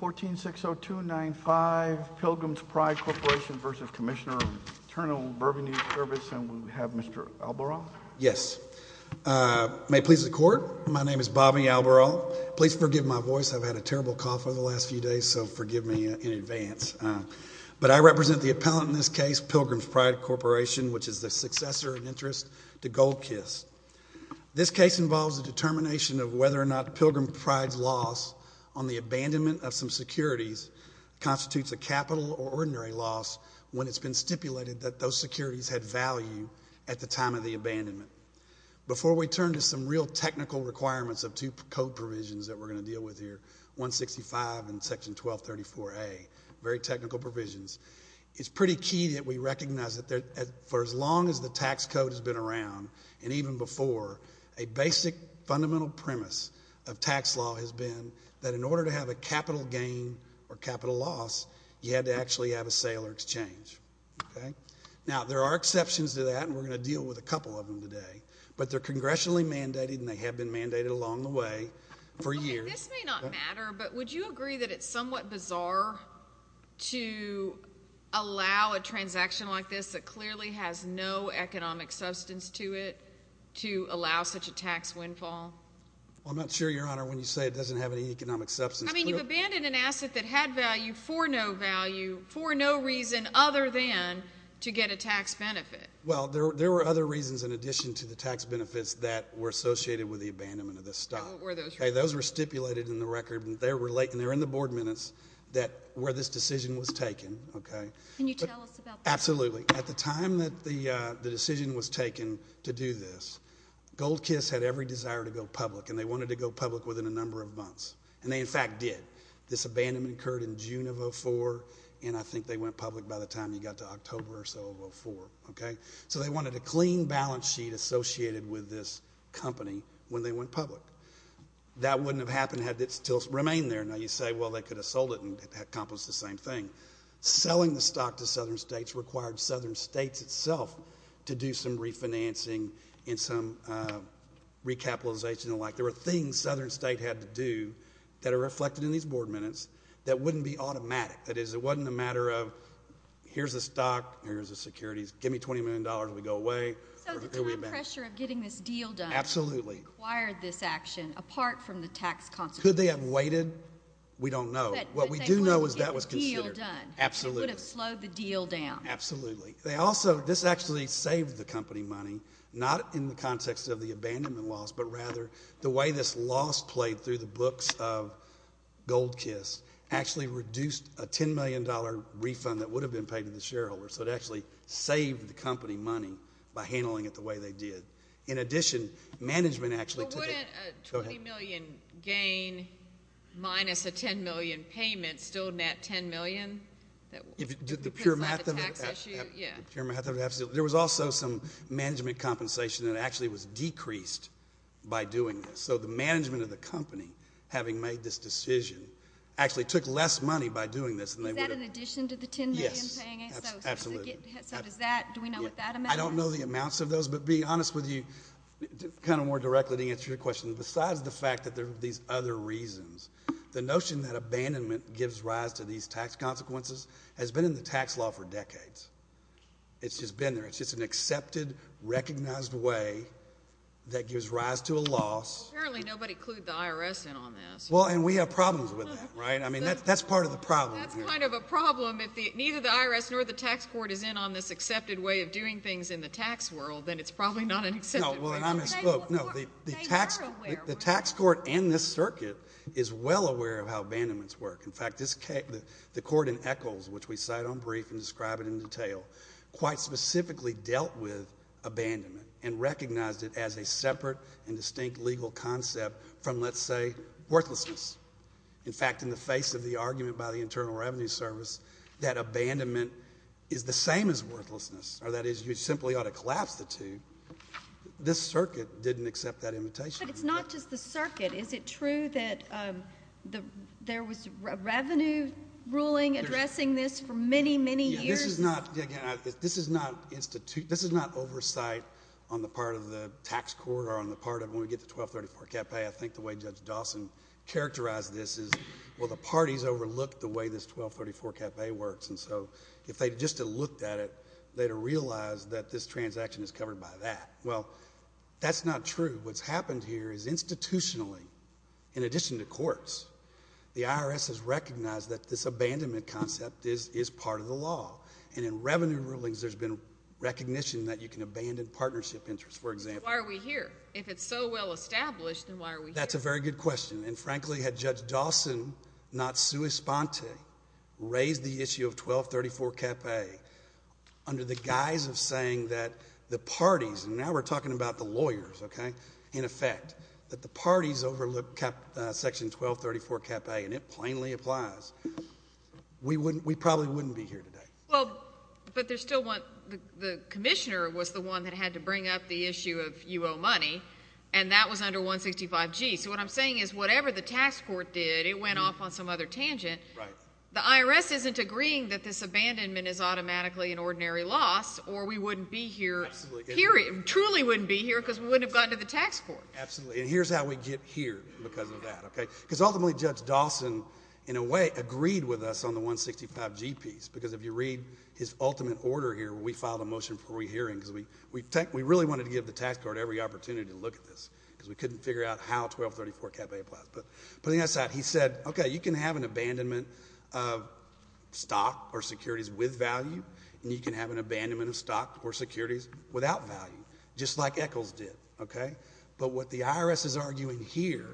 1460295, Pilgrim's Pride Corporation v. Commissioner of Internal Burgundy Service, and we have Mr. Alboral. Yes. May it please the Court, my name is Bobby Alboral. Please forgive my voice, I've had a terrible cough over the last few days, so forgive me in advance. But I represent the appellant in this case, Pilgrim's Pride Corporation, which is the successor of interest to Gold Kiss. This case involves the determination of whether or not Pilgrim's Pride's loss on the abandonment of some securities constitutes a capital or ordinary loss when it's been stipulated that those securities had value at the time of the abandonment. Before we turn to some real technical requirements of two code provisions that we're going to provisions, it's pretty key that we recognize that for as long as the tax code has been around, and even before, a basic fundamental premise of tax law has been that in order to have a capital gain or capital loss, you had to actually have a sale or exchange. Now there are exceptions to that, and we're going to deal with a couple of them today, but they're congressionally mandated and they have been mandated along the way for years. This may not matter, but would you agree that it's somewhat bizarre to allow a transaction like this that clearly has no economic substance to it to allow such a tax windfall? Well, I'm not sure, Your Honor, when you say it doesn't have any economic substance. I mean, you abandoned an asset that had value for no value, for no reason other than to get a tax benefit. Well, there were other reasons in addition to the tax benefits that were associated with the abandonment of the stock. Those were stipulated in the record, and they're in the board minutes, where this decision was taken. Can you tell us about that? Absolutely. At the time that the decision was taken to do this, Gold Kiss had every desire to go public, and they wanted to go public within a number of months, and they, in fact, did. This abandonment occurred in June of 2004, and I think they went public by the time you got to October or so of 2004. So they wanted a clean balance sheet associated with this company when they went public. That wouldn't have happened had it still remained there. Now, you say, well, they could have sold it and accomplished the same thing. Selling the stock to Southern states required Southern states itself to do some refinancing and some recapitalization and the like. There were things Southern states had to do that are reflected in these board minutes that wouldn't be automatic. That is, it wasn't a matter of, here's the stock, here's the securities, give me $20 million, we go away. So the time pressure of getting this deal done required this action, apart from the tax consequences. Could they have waited? We don't know. But they would have gotten the deal done. What we do know is that was considered. Absolutely. It would have slowed the deal down. Absolutely. They also, this actually saved the company money, not in the context of the abandonment loss, but rather the way this loss played through the books of Gold Kiss actually reduced a $10 million refund that would have been paid to the shareholder. So it actually saved the company money by handling it the way they did. In addition, management actually took it. Well, wouldn't a $20 million gain minus a $10 million payment still net $10 million? Did the pure math of it have to do with it? There was also some management compensation that actually was decreased by doing this. So the management of the company, having made this decision, actually took less money by doing this. Is that in addition to the $10 million? Yes. Absolutely. So does that, do we know what that amount is? I don't know the amounts of those, but to be honest with you, kind of more directly to answer your question, besides the fact that there are these other reasons, the notion that abandonment gives rise to these tax consequences has been in the tax law for decades. It's just been there. It's just an accepted, recognized way that gives rise to a loss. Well, apparently nobody clued the IRS in on this. Well, and we have problems with that, right? I mean, that's part of the problem here. That's kind of a problem. If neither the IRS nor the tax court is in on this accepted way of doing things in the tax world, then it's probably not an accepted way. No. Well, and I misspoke. No. The tax court and this circuit is well aware of how abandonments work. In fact, the court in Echols, which we cite on brief and describe it in detail, quite specifically dealt with abandonment and recognized it as a separate and distinct legal concept from, let's say, worthlessness. In fact, in the face of the argument by the Internal Revenue Service that abandonment is the same as worthlessness, or that is you simply ought to collapse the two, this circuit didn't accept that invitation. But it's not just the circuit. Is it true that there was a revenue ruling addressing this for many, many years? Yeah. This is not, again, this is not oversight on the part of the tax court or on the part of when we get the 1234-CAP-A. I think the way Judge Dawson characterized this is, well, the parties overlooked the way this 1234-CAP-A works. And so if they just had looked at it, they'd have realized that this transaction is covered by that. Well, that's not true. What's happened here is institutionally, in addition to courts, the IRS has recognized that this abandonment concept is part of the law. And in revenue rulings, there's been recognition that you can abandon partnership interest, for example. So why are we here? If it's so well established, then why are we here? That's a very good question. And frankly, had Judge Dawson, not sui sponte, raised the issue of 1234-CAP-A under the guise of saying that the parties, and now we're talking about the lawyers, okay, in effect, that the parties overlooked section 1234-CAP-A, and it plainly applies, we probably wouldn't be here today. Well, but there's still one, the commissioner was the one that had to bring up the issue of you owe money, and that was under 165G. So what I'm saying is whatever the tax court did, it went off on some other tangent. The IRS isn't agreeing that this abandonment is automatically an ordinary loss, or we wouldn't be here, truly wouldn't be here, because we wouldn't have gotten to the tax court. Absolutely. And here's how we get here because of that, okay? Because ultimately, Judge Dawson, in a way, agreed with us on the 165G piece, because if you read his ultimate order here, we filed a motion for re-hearing, because we really wanted to give the tax court every opportunity to look at this, because we couldn't figure out how 1234-CAP-A applies, but on the other side, he said, okay, you can have an abandonment of stock or securities with value, and you can have an abandonment of stock or securities without value, just like Eccles did, okay? But what the IRS is arguing here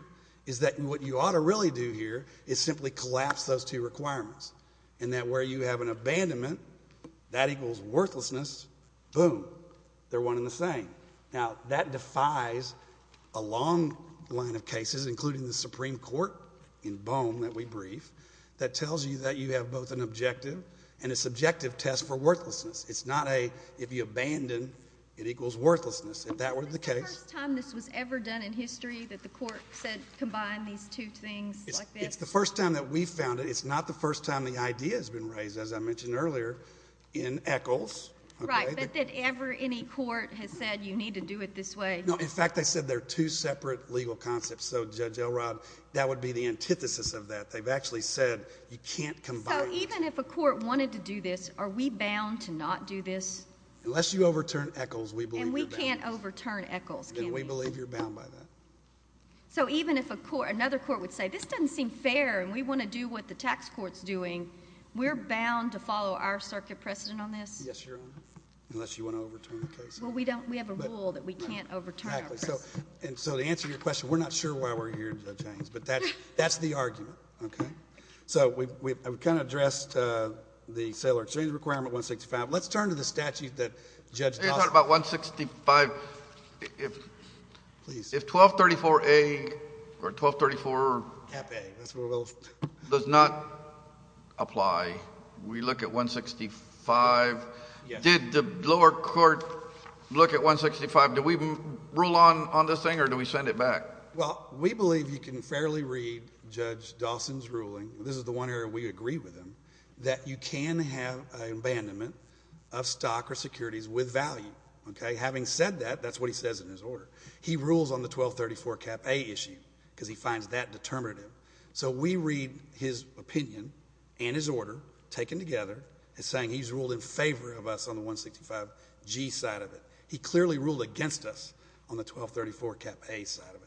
is that what you ought to really do here is simply collapse those two requirements, and that where you have an abandonment, that equals worthlessness, boom, they're one and the same. Now, that defies a long line of cases, including the Supreme Court, in Boehm, that we brief, that tells you that you have both an objective and a subjective test for worthlessness. It's not a, if you abandon, it equals worthlessness, if that were the case. Is this the first time this was ever done in history, that the court said, combine these two things like this? It's the first time that we've found it. It's not the first time the idea has been raised, as I mentioned earlier, in Eccles, okay? Right, but that ever any court has said, you need to do it this way? No, in fact, they said they're two separate legal concepts, so Judge Elrod, that would be the antithesis of that. They've actually said, you can't combine them. So even if a court wanted to do this, are we bound to not do this? Unless you overturn Eccles, we believe you're bound. And we can't overturn Eccles, can we? Then we believe you're bound by that. So even if a court, another court would say, this doesn't seem fair and we want to do what the tax court's doing, we're bound to follow our circuit precedent on this? Yes, Your Honor, unless you want to overturn the case. Well, we don't, we have a rule that we can't overturn our precedent. Exactly. So, and so the answer to your question, we're not sure why we're here, Judge Haynes, but that's the argument, okay? So we've kind of addressed the settler exchange requirement, 165. Let's turn to the statute that Judge Dostler— If 1234A, or 1234 does not apply, we look at 165. Did the lower court look at 165, do we rule on this thing or do we send it back? Well, we believe you can fairly read Judge Dostler's ruling, this is the one area we agree with him, that you can have an abandonment of stock or securities with value, okay? Having said that, that's what he says in his order. He rules on the 1234 Cap A issue, because he finds that determinative. So we read his opinion and his order, taken together, as saying he's ruled in favor of us on the 165G side of it. He clearly ruled against us on the 1234 Cap A side of it.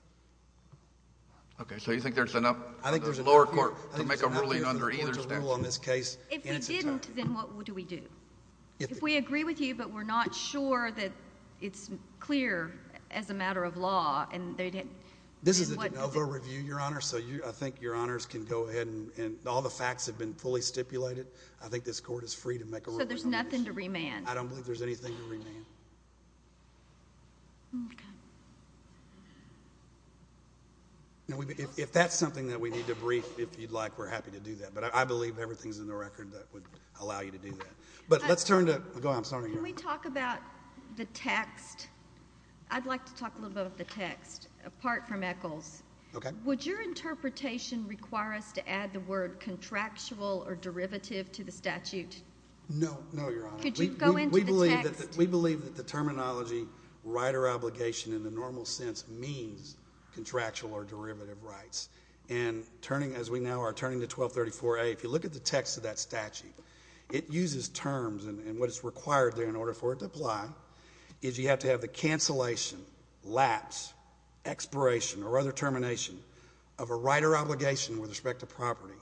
Okay. So you think there's enough— I think there's enough— —for the lower court to make a ruling under either statute? I think there's enough reason to rule on this case in its entirety. If we didn't, then what do we do? If we agree with you, but we're not sure that it's clear as a matter of law, and they didn't— This is a de novo review, Your Honor, so I think Your Honors can go ahead and all the facts have been fully stipulated. I think this court is free to make a ruling on this case. So there's nothing to remand? I don't believe there's anything to remand. Okay. Now, if that's something that we need to brief, if you'd like, we're happy to do that, but I believe everything's in the record that would allow you to do that. But let's turn to— Go ahead. I'm sorry, Your Honor. Can we talk about the text? I'd like to talk a little bit about the text, apart from Eccles. Okay. Would your interpretation require us to add the word contractual or derivative to the statute? No. No, Your Honor. Could you go into the text? We believe that the terminology, right or obligation, in the normal sense means contractual or derivative rights. And turning, as we now are turning to 1234A, if you look at the text of that statute, it uses terms, and what is required there in order for it to apply is you have to have the cancellation, lapse, expiration, or other termination of a right or obligation with respect to property,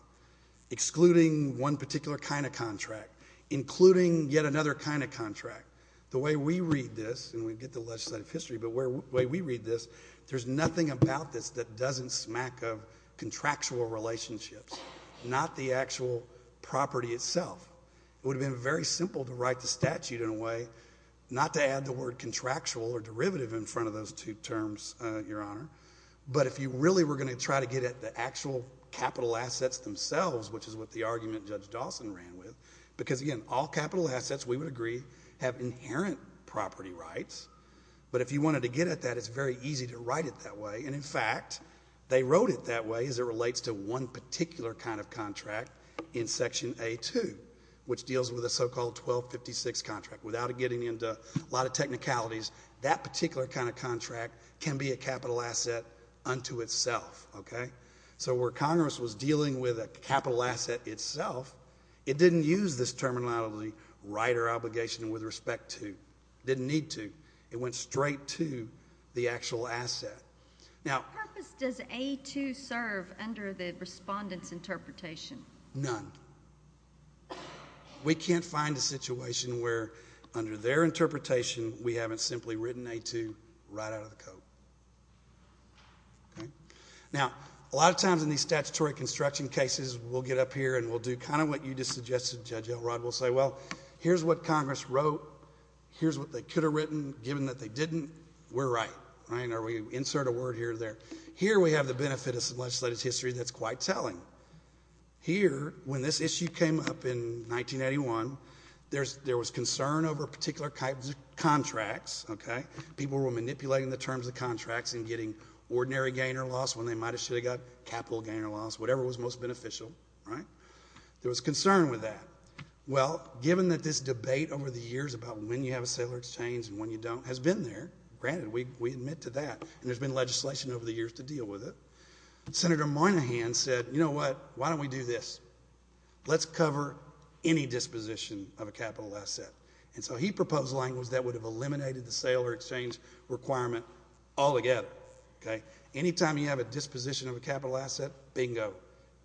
excluding one particular kind of contract, including yet another kind of contract. The way we read this, and we get the legislative history, but the way we read this, there's nothing about this that doesn't smack of contractual relationships, not the actual property itself. It would have been very simple to write the statute in a way, not to add the word contractual or derivative in front of those two terms, Your Honor, but if you really were going to try to get at the actual capital assets themselves, which is what the argument Judge Dawson ran with, because again, all capital assets, we would agree, have inherent property rights, but if you wanted to get at that, it's very easy to write it that way, and in fact, they wrote it that way as it relates to one particular kind of contract in Section A-2, which deals with a so-called 1256 contract. Without getting into a lot of technicalities, that particular kind of contract can be a capital asset unto itself, okay? So where Congress was dealing with a capital asset itself, it didn't use this terminology, not only right or obligation with respect to, didn't need to, it went straight to the actual asset. Now... What purpose does A-2 serve under the respondent's interpretation? None. We can't find a situation where under their interpretation, we haven't simply written A-2 right out of the code, okay? Now, a lot of times in these statutory construction cases, we'll get up here and we'll do kind of what you just suggested, Judge Elrod, we'll say, well, here's what Congress wrote, here's what they could have written, given that they didn't, we're right, right? Or we insert a word here or there. Here we have the benefit of some legislative history that's quite telling. Here, when this issue came up in 1981, there was concern over particular kinds of contracts, okay? People were manipulating the terms of contracts and getting ordinary gain or loss when they might have should have got capital gain or loss, whatever was most beneficial, right? There was concern with that. Well, given that this debate over the years about when you have a sale or exchange and when you don't has been there, granted, we admit to that, and there's been legislation over the years to deal with it, Senator Moynihan said, you know what, why don't we do this? Let's cover any disposition of a capital asset. And so he proposed language that would have eliminated the sale or exchange requirement altogether, okay? Anytime you have a disposition of a capital asset, bingo,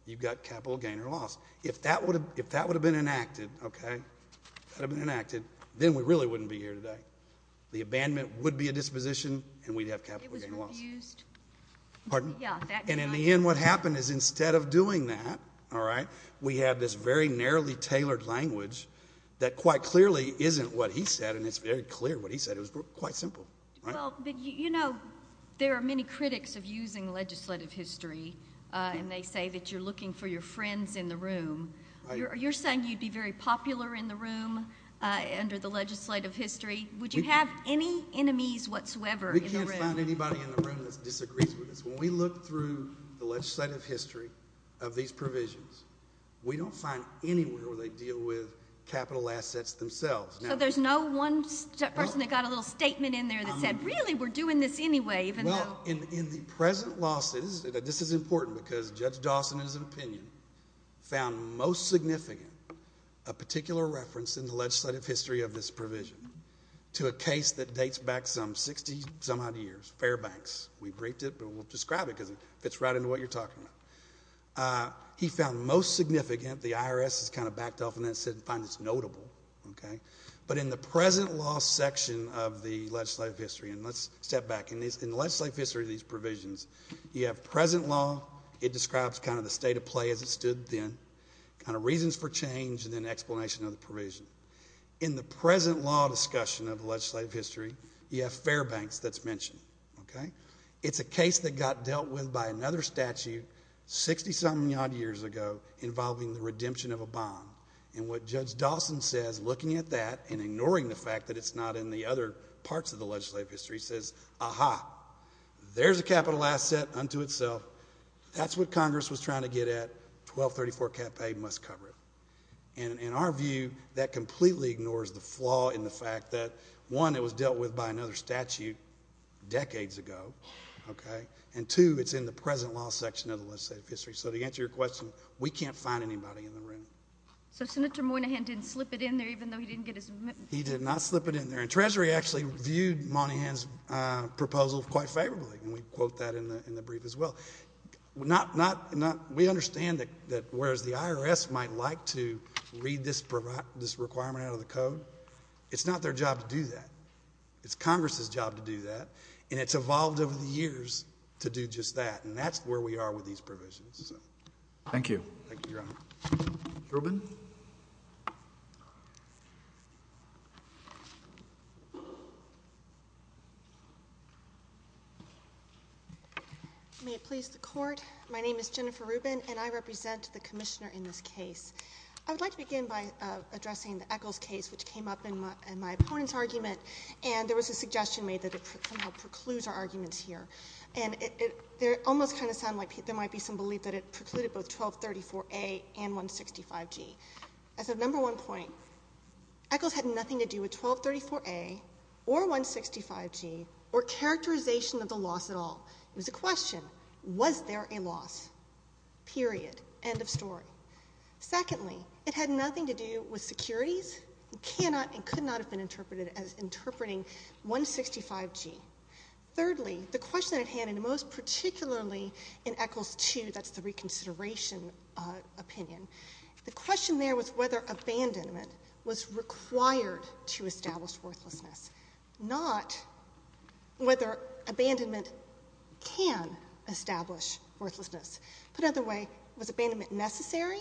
you've got capital gain or loss. If that would have been enacted, okay, that would have been enacted, then we really wouldn't be here today. The abandonment would be a disposition, and we'd have capital gain or loss. It was refused. Pardon? Yeah, that did not exist. And in the end, what happened is instead of doing that, all right, we had this very narrowly tailored language that quite clearly isn't what he said, and it's very clear what he said. It was quite simple, right? Well, you know, there are many critics of using legislative history, and they say that you're looking for your friends in the room. You're saying you'd be very popular in the room under the legislative history. Would you have any enemies whatsoever in the room? We can't find anybody in the room that disagrees with us. When we look through the legislative history of these provisions, we don't find anywhere where they deal with capital assets themselves. So there's no one person that got a little statement in there that said, really, we're doing this anyway, even though— Well, in the present losses, this is important because Judge Dawson, in his opinion, found most significant a particular reference in the legislative history of this provision to a case that dates back some 60-some odd years, Fairbanks. We briefed it, but we'll describe it because it fits right into what you're talking about. He found most significant, the IRS has kind of backed off on that and said, fine, it's notable, okay? But in the present loss section of the legislative history, and let's step back, in the legislative history of these provisions, you have present law, it describes kind of the state of play as it stood then, kind of reasons for change, and then explanation of the provision. In the present law discussion of the legislative history, you have Fairbanks that's mentioned, okay? It's a case that got dealt with by another statute 60-some odd years ago involving the redemption of a bond, and what Judge Dawson says, looking at that and ignoring the fact that it's not in the other parts of the legislative history, says, ah-ha, there's a capital asset unto itself, that's what Congress was trying to get at, 1234 cap pay must cover it. In our view, that completely ignores the flaw in the fact that, one, it was dealt with by another statute decades ago, okay? And two, it's in the present law section of the legislative history. So to answer your question, we can't find anybody in the room. So Senator Moynihan didn't slip it in there, even though he didn't get his amendment? He did not slip it in there, and Treasury actually viewed Moynihan's proposal quite favorably, and we quote that in the brief as well. We understand that whereas the IRS might like to read this requirement out of the code, it's not their job to do that. It's Congress's job to do that, and it's evolved over the years to do just that, and that's where we are with these provisions. Thank you. Thank you, Your Honor. Rubin? May it please the Court, my name is Jennifer Rubin, and I represent the Commissioner in this case. I would like to begin by addressing the Echols case, which came up in my opponent's argument, and there was a suggestion made that it somehow precludes our arguments here, and it almost kind of sounded like there might be some belief that it precluded both 1234A and 165G. As of number one point, Echols had nothing to do with 1234A or 165G or characterization of the loss at all. It was a question, was there a loss? Period. End of story. Secondly, it had nothing to do with securities, and could not have been interpreted as interpreting 165G. Thirdly, the question that it had, and most particularly in Echols 2, that's the reconsideration opinion, the question there was whether abandonment was required to establish worthlessness, not whether abandonment can establish worthlessness. Put another way, was abandonment necessary?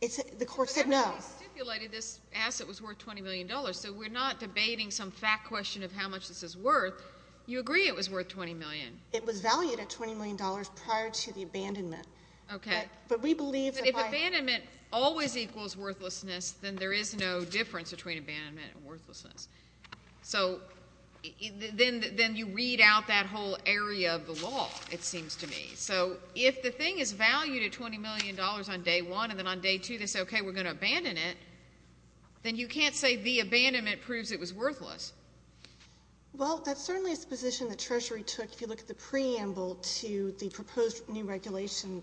The Court said no. But everybody stipulated this asset was worth $20 million, so we're not debating some fact question of how much this is worth. You agree it was worth $20 million? It was valued at $20 million prior to the abandonment. Okay. But we believe that by— But if abandonment always equals worthlessness, then there is no difference between abandonment and worthlessness. So then you read out that whole area of the law, it seems to me. So if the thing is valued at $20 million on day one, and then on day two they say, okay, we're going to abandon it, then you can't say the abandonment proves it was worthless. Well, that's certainly a position the Treasury took. If you look at the preamble to the proposed new regulation,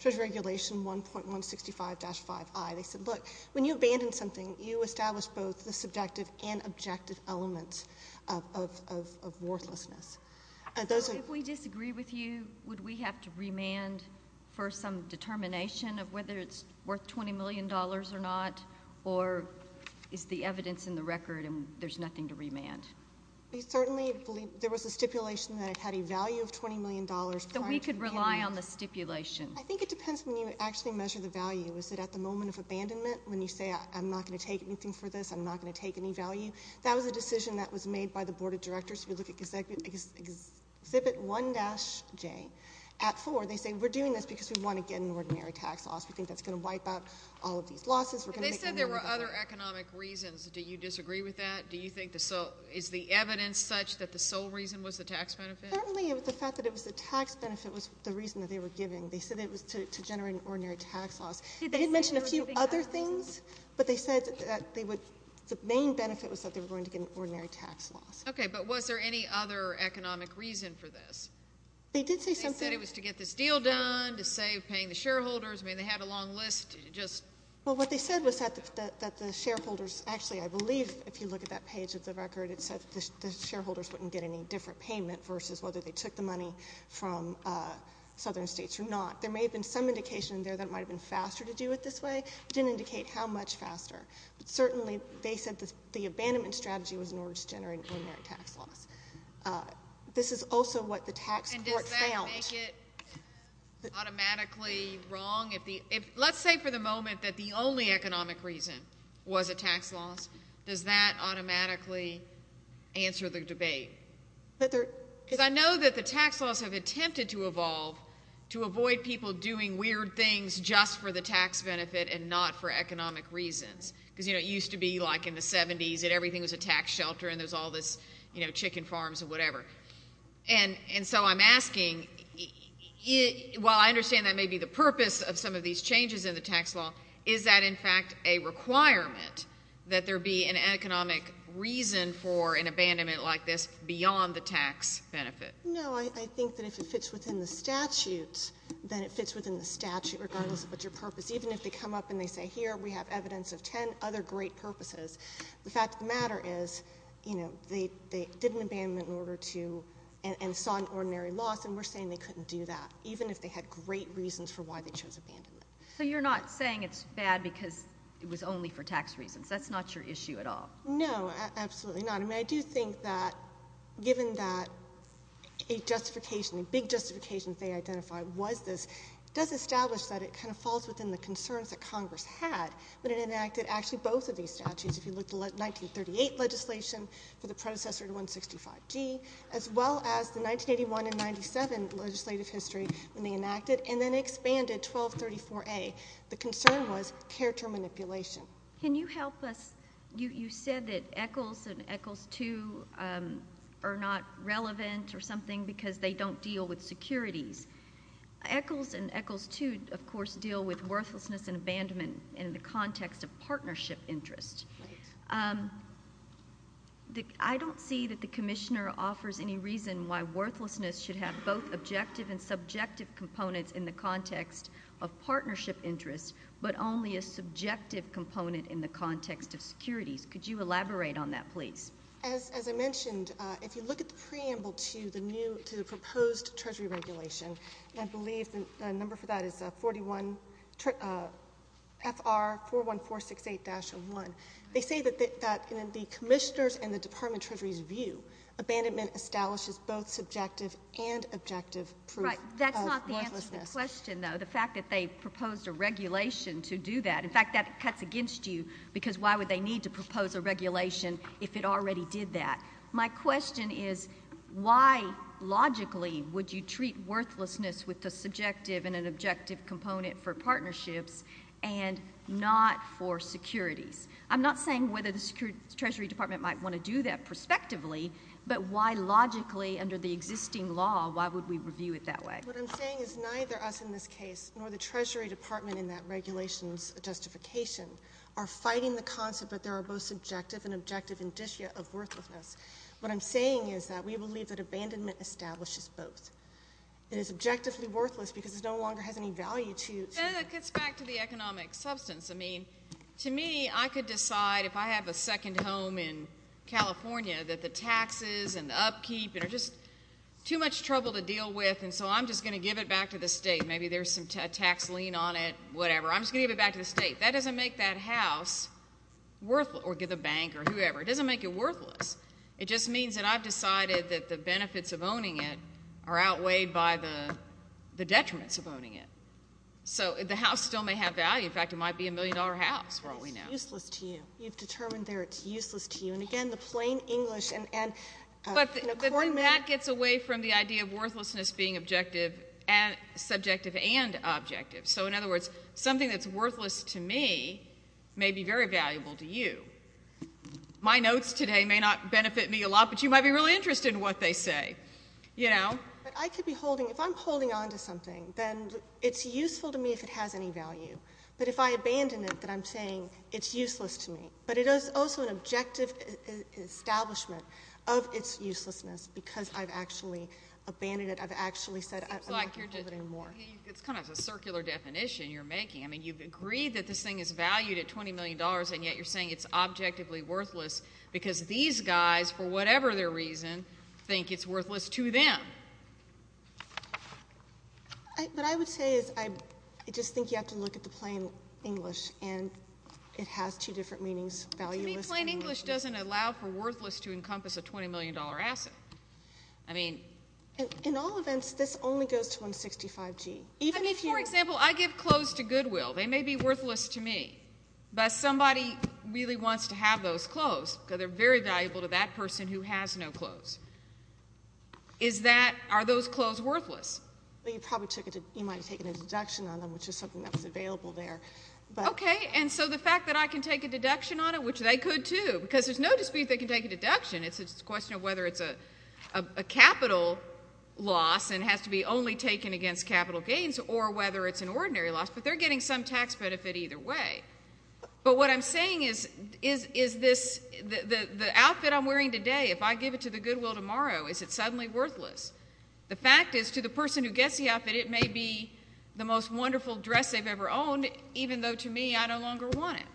Treasury Regulation 1.165-5i, they said, look, when you abandon something, you establish both the subjective and objective elements of worthlessness. If we disagree with you, would we have to remand for some determination of whether it's worth $20 million or not, or is the evidence in the record and there's nothing to remand? We certainly believe—there was a stipulation that it had a value of $20 million prior to the— So we could rely on the stipulation. I think it depends when you actually measure the value. Is it at the moment of abandonment, when you say, I'm not going to take anything for this, I'm not going to take any value? That was a decision that was made by the Board of Directors. If you look at Exhibit 1-J, at 4, they say, we're doing this because we want to get an We think that's going to wipe out our tax system. We think that's going to wipe out our tax system. They said there were other economic reasons. Do you disagree with that? Do you think the—is the evidence such that the sole reason was the tax benefit? Certainly. The fact that it was the tax benefit was the reason that they were giving. They said it was to generate an ordinary tax loss. They did mention a few other things, but they said that they would—the main benefit was that they were going to get an ordinary tax loss. Okay. But was there any other economic reason for this? They did say something— They said it was to get this deal done, to save paying the shareholders. I do. I do. I do. I do. I do. I do. I do. I do. I do. Well, what they said was that the shareholders—actually, I believe if you look at that page of the record, the shareholders wouldn't get any different payment versus whether they took, from southern states or not. There may have been some indication there that is might have been faster to do it this certainly, they said the abandonment strategy was in order to generate ordinary tax loss. This is also what the tax court found. And does that make it automatically wrong? Let's say for the moment that the only economic reason was a tax loss. Does that automatically answer the debate? Because I know that the tax laws have attempted to evolve to avoid people doing weird things just for the tax benefit and not for economic reasons. Because, you know, it used to be like in the 70s that everything was a tax shelter and there's all this, you know, chicken farms and whatever. And so I'm asking, while I understand that may be the purpose of some of these changes in the tax law, is that in fact a requirement that there be an economic reason for an abandonment like this beyond the tax benefit? No. I think that if it fits within the statutes, then it fits within the statute regardless of what your purpose. Even if they come up and they say, here, we have evidence of ten other great purposes. You know, they did an abandonment in order to, and saw an ordinary loss, and we're saying they couldn't do that, even if they had great reasons for why they chose abandonment. So you're not saying it's bad because it was only for tax reasons. That's not your issue at all? No, absolutely not. I mean, I do think that given that a justification, a big justification they identified was this, it does establish that it kind of falls within the concerns that Congress had when it enacted actually both of these statutes. The first one was for the predecessor to 165G, as well as the 1981 and 97 legislative history when they enacted, and then expanded 1234A. The concern was character manipulation. Can you help us? You said that ECHLs and ECHLs II are not relevant or something because they don't deal with securities. ECHLs and ECHLs II, of course, deal with worthlessness and abandonment in the context of partnership interest. I don't see that the commissioner offers any reason why worthlessness should have both objective and subjective components in the context of partnership interest, but only a subjective component in the context of securities. Could you elaborate on that, please? As I mentioned, if you look at the preamble to the proposed treasury regulation, I believe the number for that is FR41468-01. They say that in the commissioner's and the department treasury's view, abandonment establishes both subjective and objective proof of worthlessness. Right. That's not the answer to the question, though, the fact that they proposed a regulation to do that. In fact, that cuts against you because why would they need to propose a regulation if it already did that? My question is, why logically would you treat worthlessness with the subjective and an objective component for partnerships and not for securities? I'm not saying whether the treasury department might want to do that prospectively, but why logically, under the existing law, why would we review it that way? What I'm saying is neither us in this case nor the treasury department in that regulations justification are fighting the concept that there are both subjective and objective indicia of worthlessness. What I'm saying is that we believe that abandonment establishes both. It is objectively worthless because it no longer has any value to you. Senator, it gets back to the economic substance. I mean, to me, I could decide that abandonment establishes both. I could decide, if I have a second home in California, that the taxes and the upkeep are just too much trouble to deal with, and so I'm just going to give it back to the state. Maybe there's a tax lien on it, whatever. I'm just going to give it back to the state. That doesn't make that house worth or the bank or whoever. It doesn't make it worthless. It just means that I've decided that the benefits of owning it are outweighed by the detriments of owning it. So the house still may have value. In fact, it might be a million-dollar house. That's what we know. It's useless to you. You've determined there it's useless to you. And again, the plain English and an accordment. But that gets away from the idea of worthlessness being subjective and objective. So in other words, something that's worthless to me may be very valuable to you. My notes today may not benefit me a lot, but you might be really interested in what they say, you know? But I could be holding, if I'm holding onto something, then it's useful to me if it has any value. But if I abandon it, then I'm saying it's useless to me. But it is also an objective establishment of its uselessness, because I've actually abandoned it. I've actually said I'm not going to hold it anymore. It's kind of a circular definition you're making. I mean, you've agreed that this thing is valued at $20 million, and yet you're saying it's objectively worthless, because these guys, for whatever their reason, think it's worthless to them. It's just plain English, and it has two different meanings, valueless and worthless. To me, plain English doesn't allow for worthless to encompass a $20 million asset. I mean... In all events, this only goes to 165G. Even if you... I mean, for example, I give clothes to Goodwill. They may be worthless to me, but somebody really wants to have those clothes, because they're very valuable to that person who has no clothes. Is that... Are those clothes worthless? Well, you probably took it to... You probably took it to Goodwill there. Okay, and so the fact that I can take a deduction on it, which they could too, because there's no dispute they can take a deduction. It's a question of whether it's a capital loss and has to be only taken against capital gains, or whether it's an ordinary loss. But they're getting some tax benefit either way. But what I'm saying is, is this... The outfit I'm wearing today, if I give it to the Goodwill tomorrow, is it suddenly worthless? The fact is, to the person who gets the outfit, it may be the most wonderful dress they've ever owned, even though to me, I no longer want it.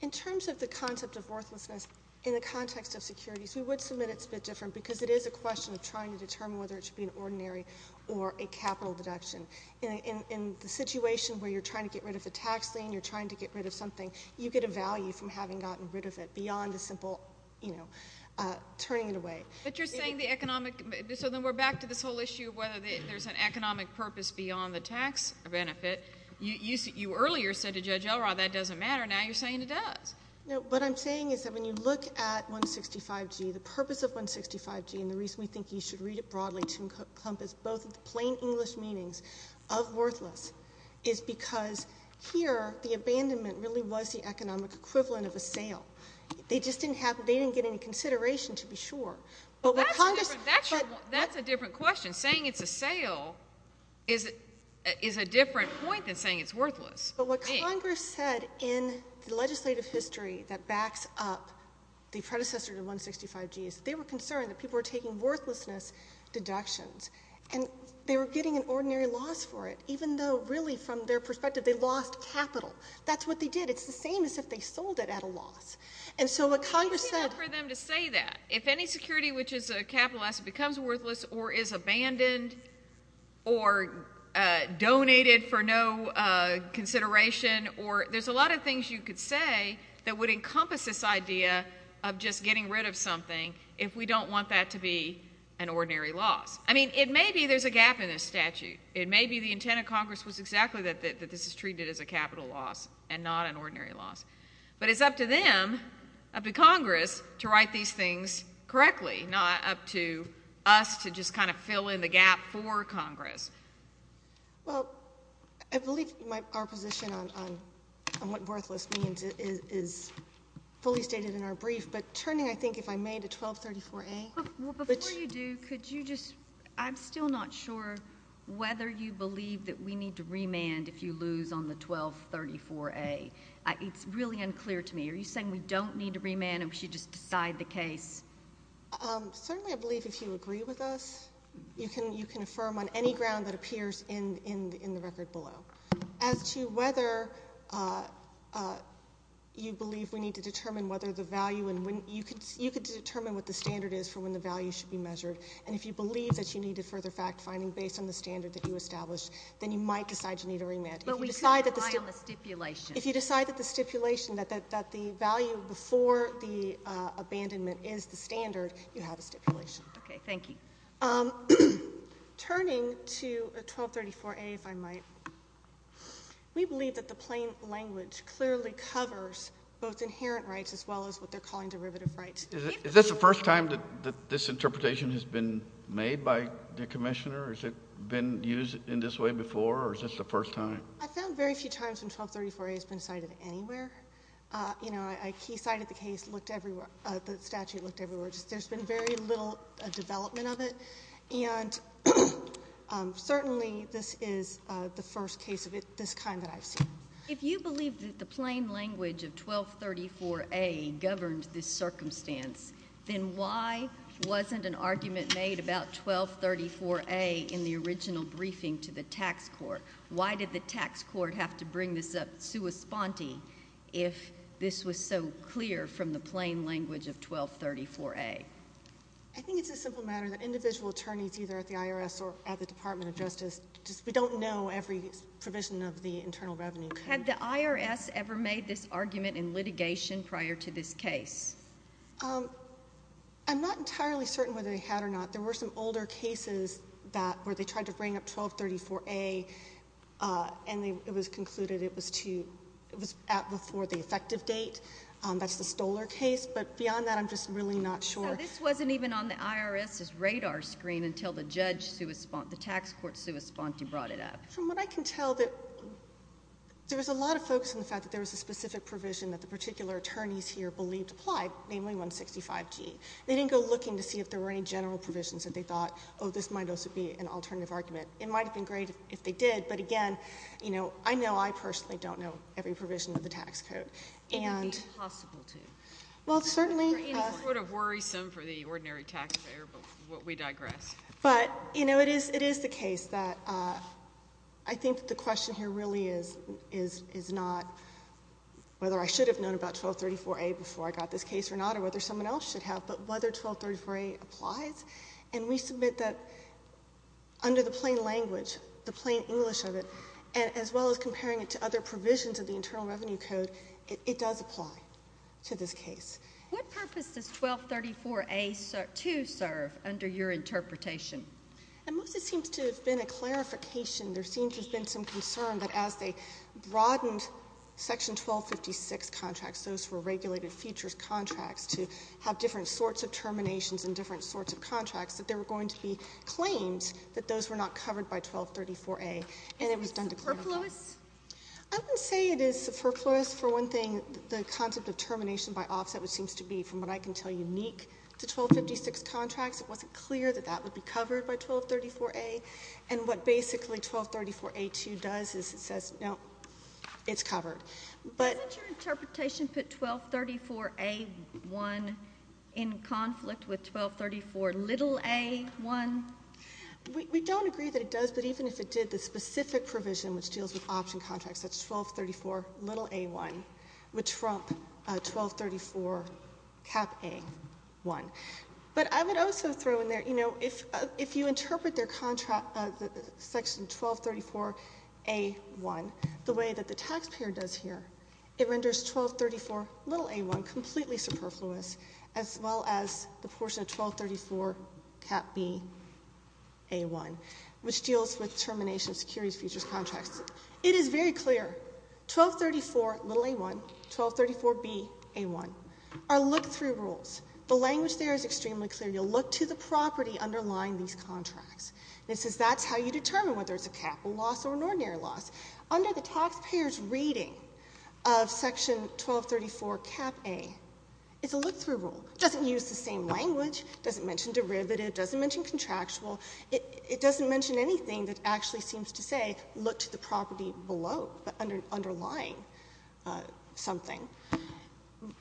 In terms of the concept of worthlessness, in the context of securities, we would submit it's a bit different, because it is a question of trying to determine whether it should be an ordinary or a capital deduction. In the situation where you're trying to get rid of a tax lien, you're trying to get rid of something, you get a value from having gotten rid of it beyond a simple, you know, turning it away. But you're saying the economic... So then we're back to this whole issue of whether there's an economic purpose beyond the tax benefit. You earlier said to Judge Elrod, that doesn't matter. Now you're saying it does. No, what I'm saying is that when you look at 165G, the purpose of 165G and the reason we think you should read it broadly to encompass both the plain English meanings of worthless is because here, the abandonment really was the economic equivalent of a sale. They just didn't have... They didn't get any consideration, to be sure. But what Congress... That's a different question. Saying it's a sale is a different point than saying it's a sale. It's not saying it's worthless. But what Congress said in the legislative history that backs up the predecessor to 165G is they were concerned that people were taking worthlessness deductions and they were getting an ordinary loss for it, even though, really, from their perspective, they lost capital. That's what they did. It's the same as if they sold it at a loss. And so what Congress said... I can't wait for them to say that. If any security which is capitalized becomes worthless or is abandoned or donated for no consideration or... There's a lot of things you could say that would encompass this idea of just getting rid of something if we don't want that to be an ordinary loss. I mean, it may be there's a gap in this statute. It may be the intent of Congress was exactly that this is treated as a capital loss and not an ordinary loss. But it's up to them, up to Congress, to write these things correctly, not up to us to just Well, I believe you might be right. Our position on what worthless means is fully stated in our brief. But turning, I think, if I may, to 1234A... Well, before you do, could you just... I'm still not sure whether you believe that we need to remand if you lose on the 1234A. It's really unclear to me. Are you saying we don't need to remand and we should just decide the case? Certainly, I believe if you agree with us, you can affirm on any ground that appears in the record below. As to whether you believe we need to determine whether the value and when... You could determine what the standard is for when the value should be measured. And if you believe that you need a further fact-finding based on the standard that you established, then you might decide you need a remand. But we could rely on the stipulation. If you decide that the stipulation, that the value before the abandonment is the standard, you have a stipulation. Okay. Thank you. Turning to 1234A, if I might. We believe that the plain language clearly covers both inherent rights as well as what they're calling derivative rights. Is this the first time that this interpretation has been made by the Commissioner? Has it been used in this way before, or is this the first time? I found very few times when 1234A has been cited anywhere. You know, I key-cited the case, looked everywhere. The statute looked everywhere. There's been very little development of it. And certainly, this is the first case that's been cited. It's the first case of this kind that I've seen. If you believe that the plain language of 1234A governed this circumstance, then why wasn't an argument made about 1234A in the original briefing to the tax court? Why did the tax court have to bring this up sua sponte if this was so clear from the plain language of 1234A? I think it's a simple matter that individual attorneys, either at the IRS or at the Department of Justice, we don't know every provision of the statute. We don't know every provision of the Internal Revenue Code. Had the IRS ever made this argument in litigation prior to this case? I'm not entirely certain whether they had or not. There were some older cases where they tried to bring up 1234A, and it was concluded it was at before the effective date. That's the Stoler case. But beyond that, I'm just really not sure. So this wasn't even on the IRS's radar screen until the tax court sua sponte brought it up? From what I can tell, that there was a lot of focus on the fact that there was a specific provision that the particular attorneys here believed applied, namely 165G. They didn't go looking to see if there were any general provisions that they thought, oh, this might also be an alternative argument. It might have been great if they did, but again, you know, I know I personally don't know every provision of the tax code. And it would be impossible to. Well, certainly. Or any sort of worrisome for the ordinary taxpayer, but we digress. I think the question here really is not whether I should have known about 1234A before I got this case or not, or whether someone else should have, but whether 1234A applies. And we submit that under the plain language, the plain English of it, as well as comparing it to other provisions of the Internal Revenue Code, it does apply to this case. What purpose does 1234A2 serve under your interpretation? It mostly seems to have been a clarification. There seems to have been some concern that as they broadened Section 1256 contracts, those were regulated features contracts, to have different sorts of terminations and different sorts of contracts, that there were going to be claims that those were not covered by 1234A, and it was done to clarify. Is it superfluous? I wouldn't say it is superfluous. For one thing, the concept of termination by offset, which seems to be, from what I can tell, unique to 1256 contracts, it wasn't clear that that would be covered by 1234A. And what basically 1234A2 does is it says, no, it's covered. But — Doesn't your interpretation put 1234A1 in conflict with 1234a1? We don't agree that it does, but even if it did, the specific provision, which deals with option contracts, that's 1234a1, would trump 1234A1. But I would also throw in there, you know, if you interpret their contracts as being 1234a1, the way that the taxpayer does here, it renders 1234a1 completely superfluous, as well as the portion of 1234Ba1, which deals with termination of securities features contracts. It is very clear. 1234a1, 1234ba1, are look-through rules. The language there is extremely clear. You'll look to the property underlying these contracts. And it says that's how you determine whether it's a capital loss or an ordinary loss. Under the taxpayer's reading of Section 1234CapA, it's a look-through rule. It doesn't use the same language. It doesn't mention derivative. It doesn't mention contractual. It doesn't mention anything that actually seems to say, look to the property below, underlying something.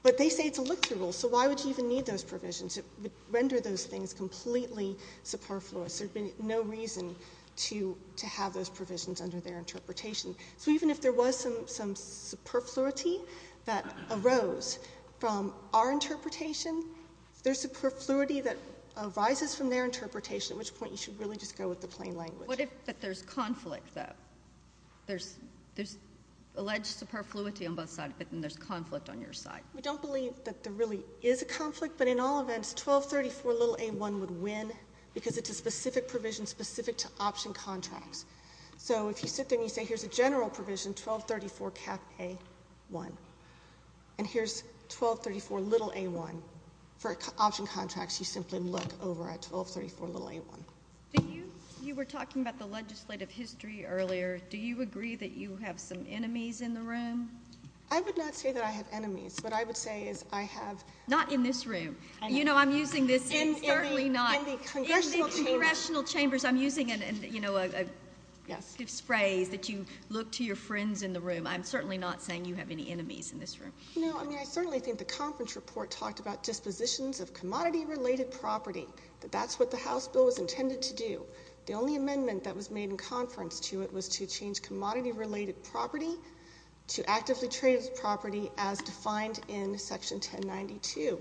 But they say it's a look-through rule, so why would you even need those provisions? It would render those things completely superfluous. There would be no reason to have those provisions under their interpretation. So even if there was some superfluity that arose from our interpretation, there's superfluity that arises from their interpretation, at which point you should really just go with the plain language. What if there's conflict, though? There's alleged superfluity on both sides, but then there's conflict on your side. We don't believe that there really is a conflict, but in all events, 1234a1 would win because it's a specific provision specific to option contracts. So if you sit there and you say, here's a general provision, 1234CapA1. And here's 1234a1. For option contracts, you simply look over at 1234a1. You were talking about the legislative history earlier. Do you agree that you have some enemies in the room? I would not say that I have enemies. What I would say is I have— Not in this room. You know, I'm using this, and certainly not— In irrational chambers, I'm using, you know, this phrase that you look to your friends in the room. I'm certainly not saying you have any enemies in this room. No, I mean, I certainly think the conference report talked about dispositions of commodity-related property, that that's what the House bill was intended to do. The only amendment that was made in conference to it was to change commodity-related property to actively traded property as defined in Section 1092.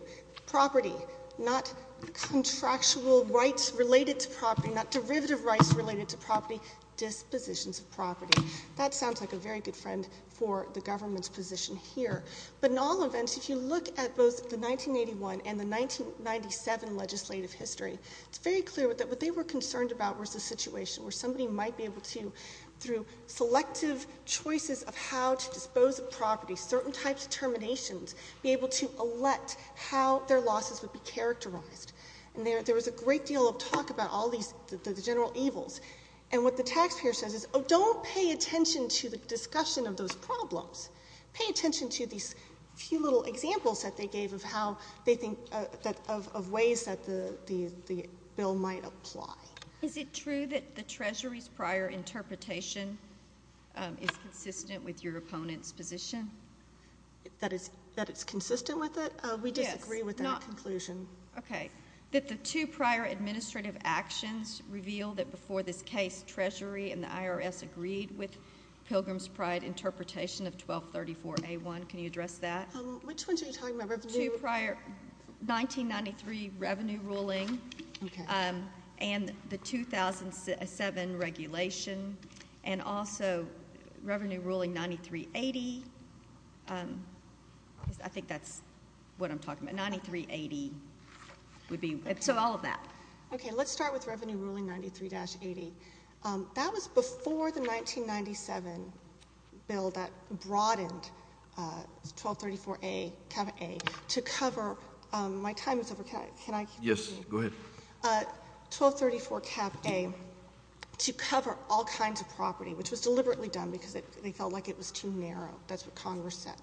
Property, not contractual rights-related property. Not derivative rights-related to property. Dispositions of property. That sounds like a very good friend for the government's position here. But in all events, if you look at both the 1981 and the 1997 legislative history, it's very clear that what they were concerned about was a situation where somebody might be able to, through selective choices of how to dispose of property, certain types of terminations, be able to elect how their losses would be characterized. And there was a great deal of talk about all of this. All these, the general evils. And what the taxpayer says is, oh, don't pay attention to the discussion of those problems. Pay attention to these few little examples that they gave of how they think, of ways that the bill might apply. Is it true that the Treasury's prior interpretation is consistent with your opponent's position? That it's consistent with it? Yes. We disagree with that conclusion. Okay. Is it true that the two prior administrative actions reveal that before this case, Treasury and the IRS agreed with Pilgrim's Pride interpretation of 1234A1? Can you address that? Which ones are you talking about? The two prior 1993 revenue ruling. Okay. And the 2007 regulation. And also, revenue ruling 9380. I think that's what I'm talking about. 9380. 9380 would be, so all of that. Okay. Let's start with revenue ruling 93-80. That was before the 1997 bill that broadened 1234A, Kappa A, to cover, my time is over. Can I continue? Yes. Go ahead. 1234 Kappa A, to cover all kinds of property, which was deliberately done because they felt like it was too narrow. That's what Congress said.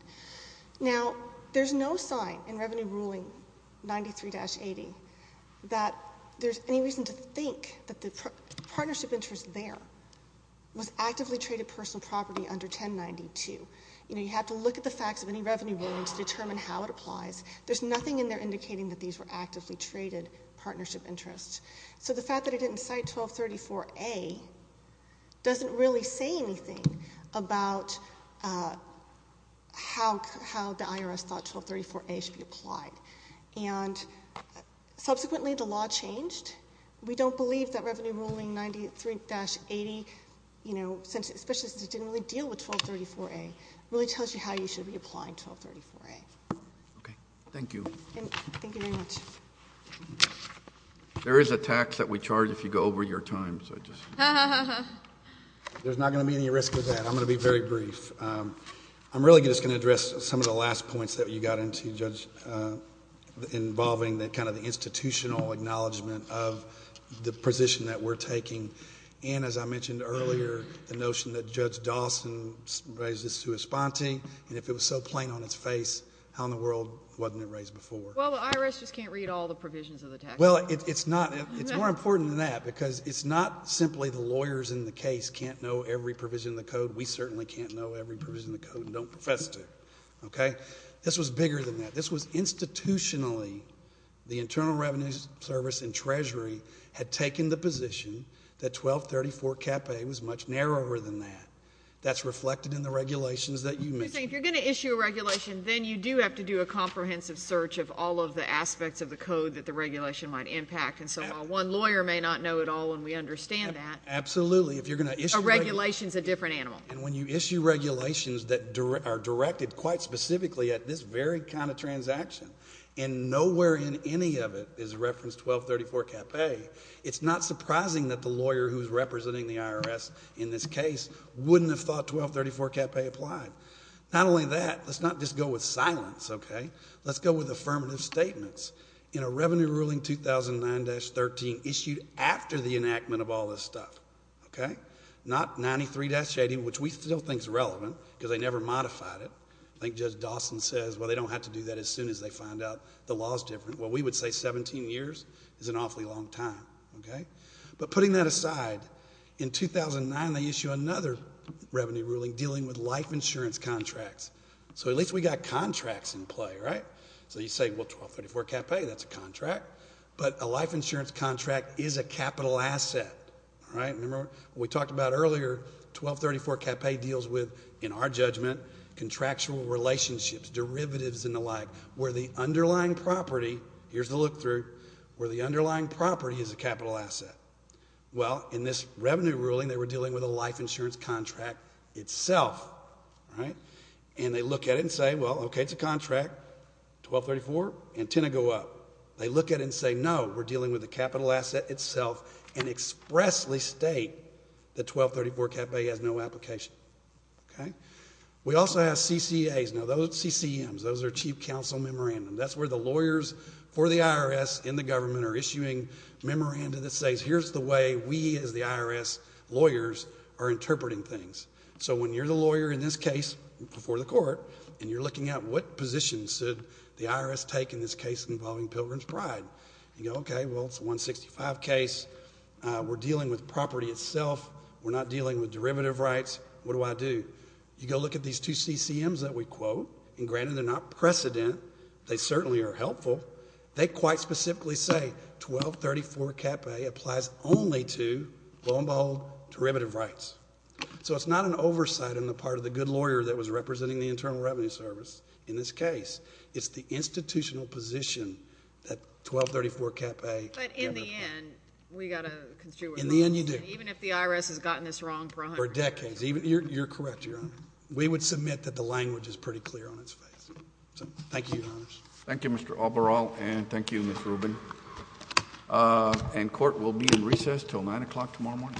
That there's any reason to think that the partnership interest there was actively traded personal property under 1092. You know, you have to look at the facts of any revenue ruling to determine how it applies. There's nothing in there indicating that these were actively traded partnership interests. So the fact that it didn't cite 1234A doesn't really say anything about how the IRS thought 1234A should be applied. And subsequently, the law changed. We don't believe that revenue ruling 93-80, you know, especially since it didn't really deal with 1234A, really tells you how you should be applying 1234A. Okay. Thank you. Thank you very much. There is a tax that we charge if you go over your time, so I just. There's not going to be any risk with that. I'm going to be very brief. I'm really just going to address some of the last points that you got into, Judge. Involving the kind of the institutional acknowledgement of the position that we're taking. And as I mentioned earlier, the notion that Judge Dawson raised this to his spontee. And if it was so plain on its face, how in the world wasn't it raised before? Well, the IRS just can't read all the provisions of the tax code. Well, it's not. It's more important than that because it's not simply the lawyers in the case can't know every provision of the code. We certainly can't know every provision of the code and don't profess to. Okay. This was bigger than that. This was institutionally. The Internal Revenue Service and Treasury had taken the position that 1234 CAPA was much narrower than that. That's reflected in the regulations that you mentioned. If you're going to issue a regulation, then you do have to do a comprehensive search of all of the aspects of the code that the regulation might impact. And so while one lawyer may not know it all and we understand that. Absolutely. If you're going to issue a regulation. A regulation is a different animal. And when you issue regulations that are directed quite specifically at this very kind of transaction. And nowhere in any of it is referenced 1234 CAPA. It's not surprising that the lawyer who's representing the IRS in this case wouldn't have thought 1234 CAPA applied. Not only that, let's not just go with silence. Okay. Let's go with affirmative statements. In a revenue ruling 2009-13 issued after the enactment of all this stuff. Okay. That's a long time. Not 93-80, which we still think is relevant because they never modified it. I think Judge Dawson says, well, they don't have to do that as soon as they find out the law is different. Well, we would say 17 years is an awfully long time. Okay. But putting that aside, in 2009 they issued another revenue ruling dealing with life insurance contracts. So at least we got contracts in play, right? So you say, well, 1234 CAPA, that's a contract. But a life insurance contract is a capital asset. All right. Remember what we talked about earlier, 1234 CAPA deals with, in our judgment, contractual relationships, derivatives and the like, where the underlying property, here's the look-through, where the underlying property is a capital asset. Well, in this revenue ruling they were dealing with a life insurance contract itself. All right. And they look at it and say, well, okay, it's a contract. 1234, antenna go up. They look at it and say, no, we're dealing with a capital asset itself. And expressly state that 1234 CAPA has no application. Okay. We also have CCAs. Now, those CCMs, those are chief counsel memorandum. That's where the lawyers for the IRS in the government are issuing memoranda that says, here's the way we as the IRS lawyers are interpreting things. So when you're the lawyer in this case before the court and you're looking at what position should the IRS take in this case involving Pilgrim's Pride, you go, okay, well, it's a 165 case. We're dealing with property itself. We're not dealing with derivative rights. What do I do? You go look at these two CCMs that we quote. And granted, they're not precedent. They certainly are helpful. They quite specifically say 1234 CAPA applies only to, lo and behold, derivative rights. So it's not an oversight on the part of the good lawyer that was representing the Internal Revenue Service in this case. It's the institutional position that 1234 CAPA. But in the end, we got a good lawyer. In the end, you do. Even if the IRS has gotten this wrong for a hundred years. For decades. You're correct, Your Honor. We would submit that the language is pretty clear on its face. So thank you, Your Honors. Thank you, Mr. Albarral, and thank you, Ms. Rubin. And court will be in recess until 9 o'clock tomorrow morning.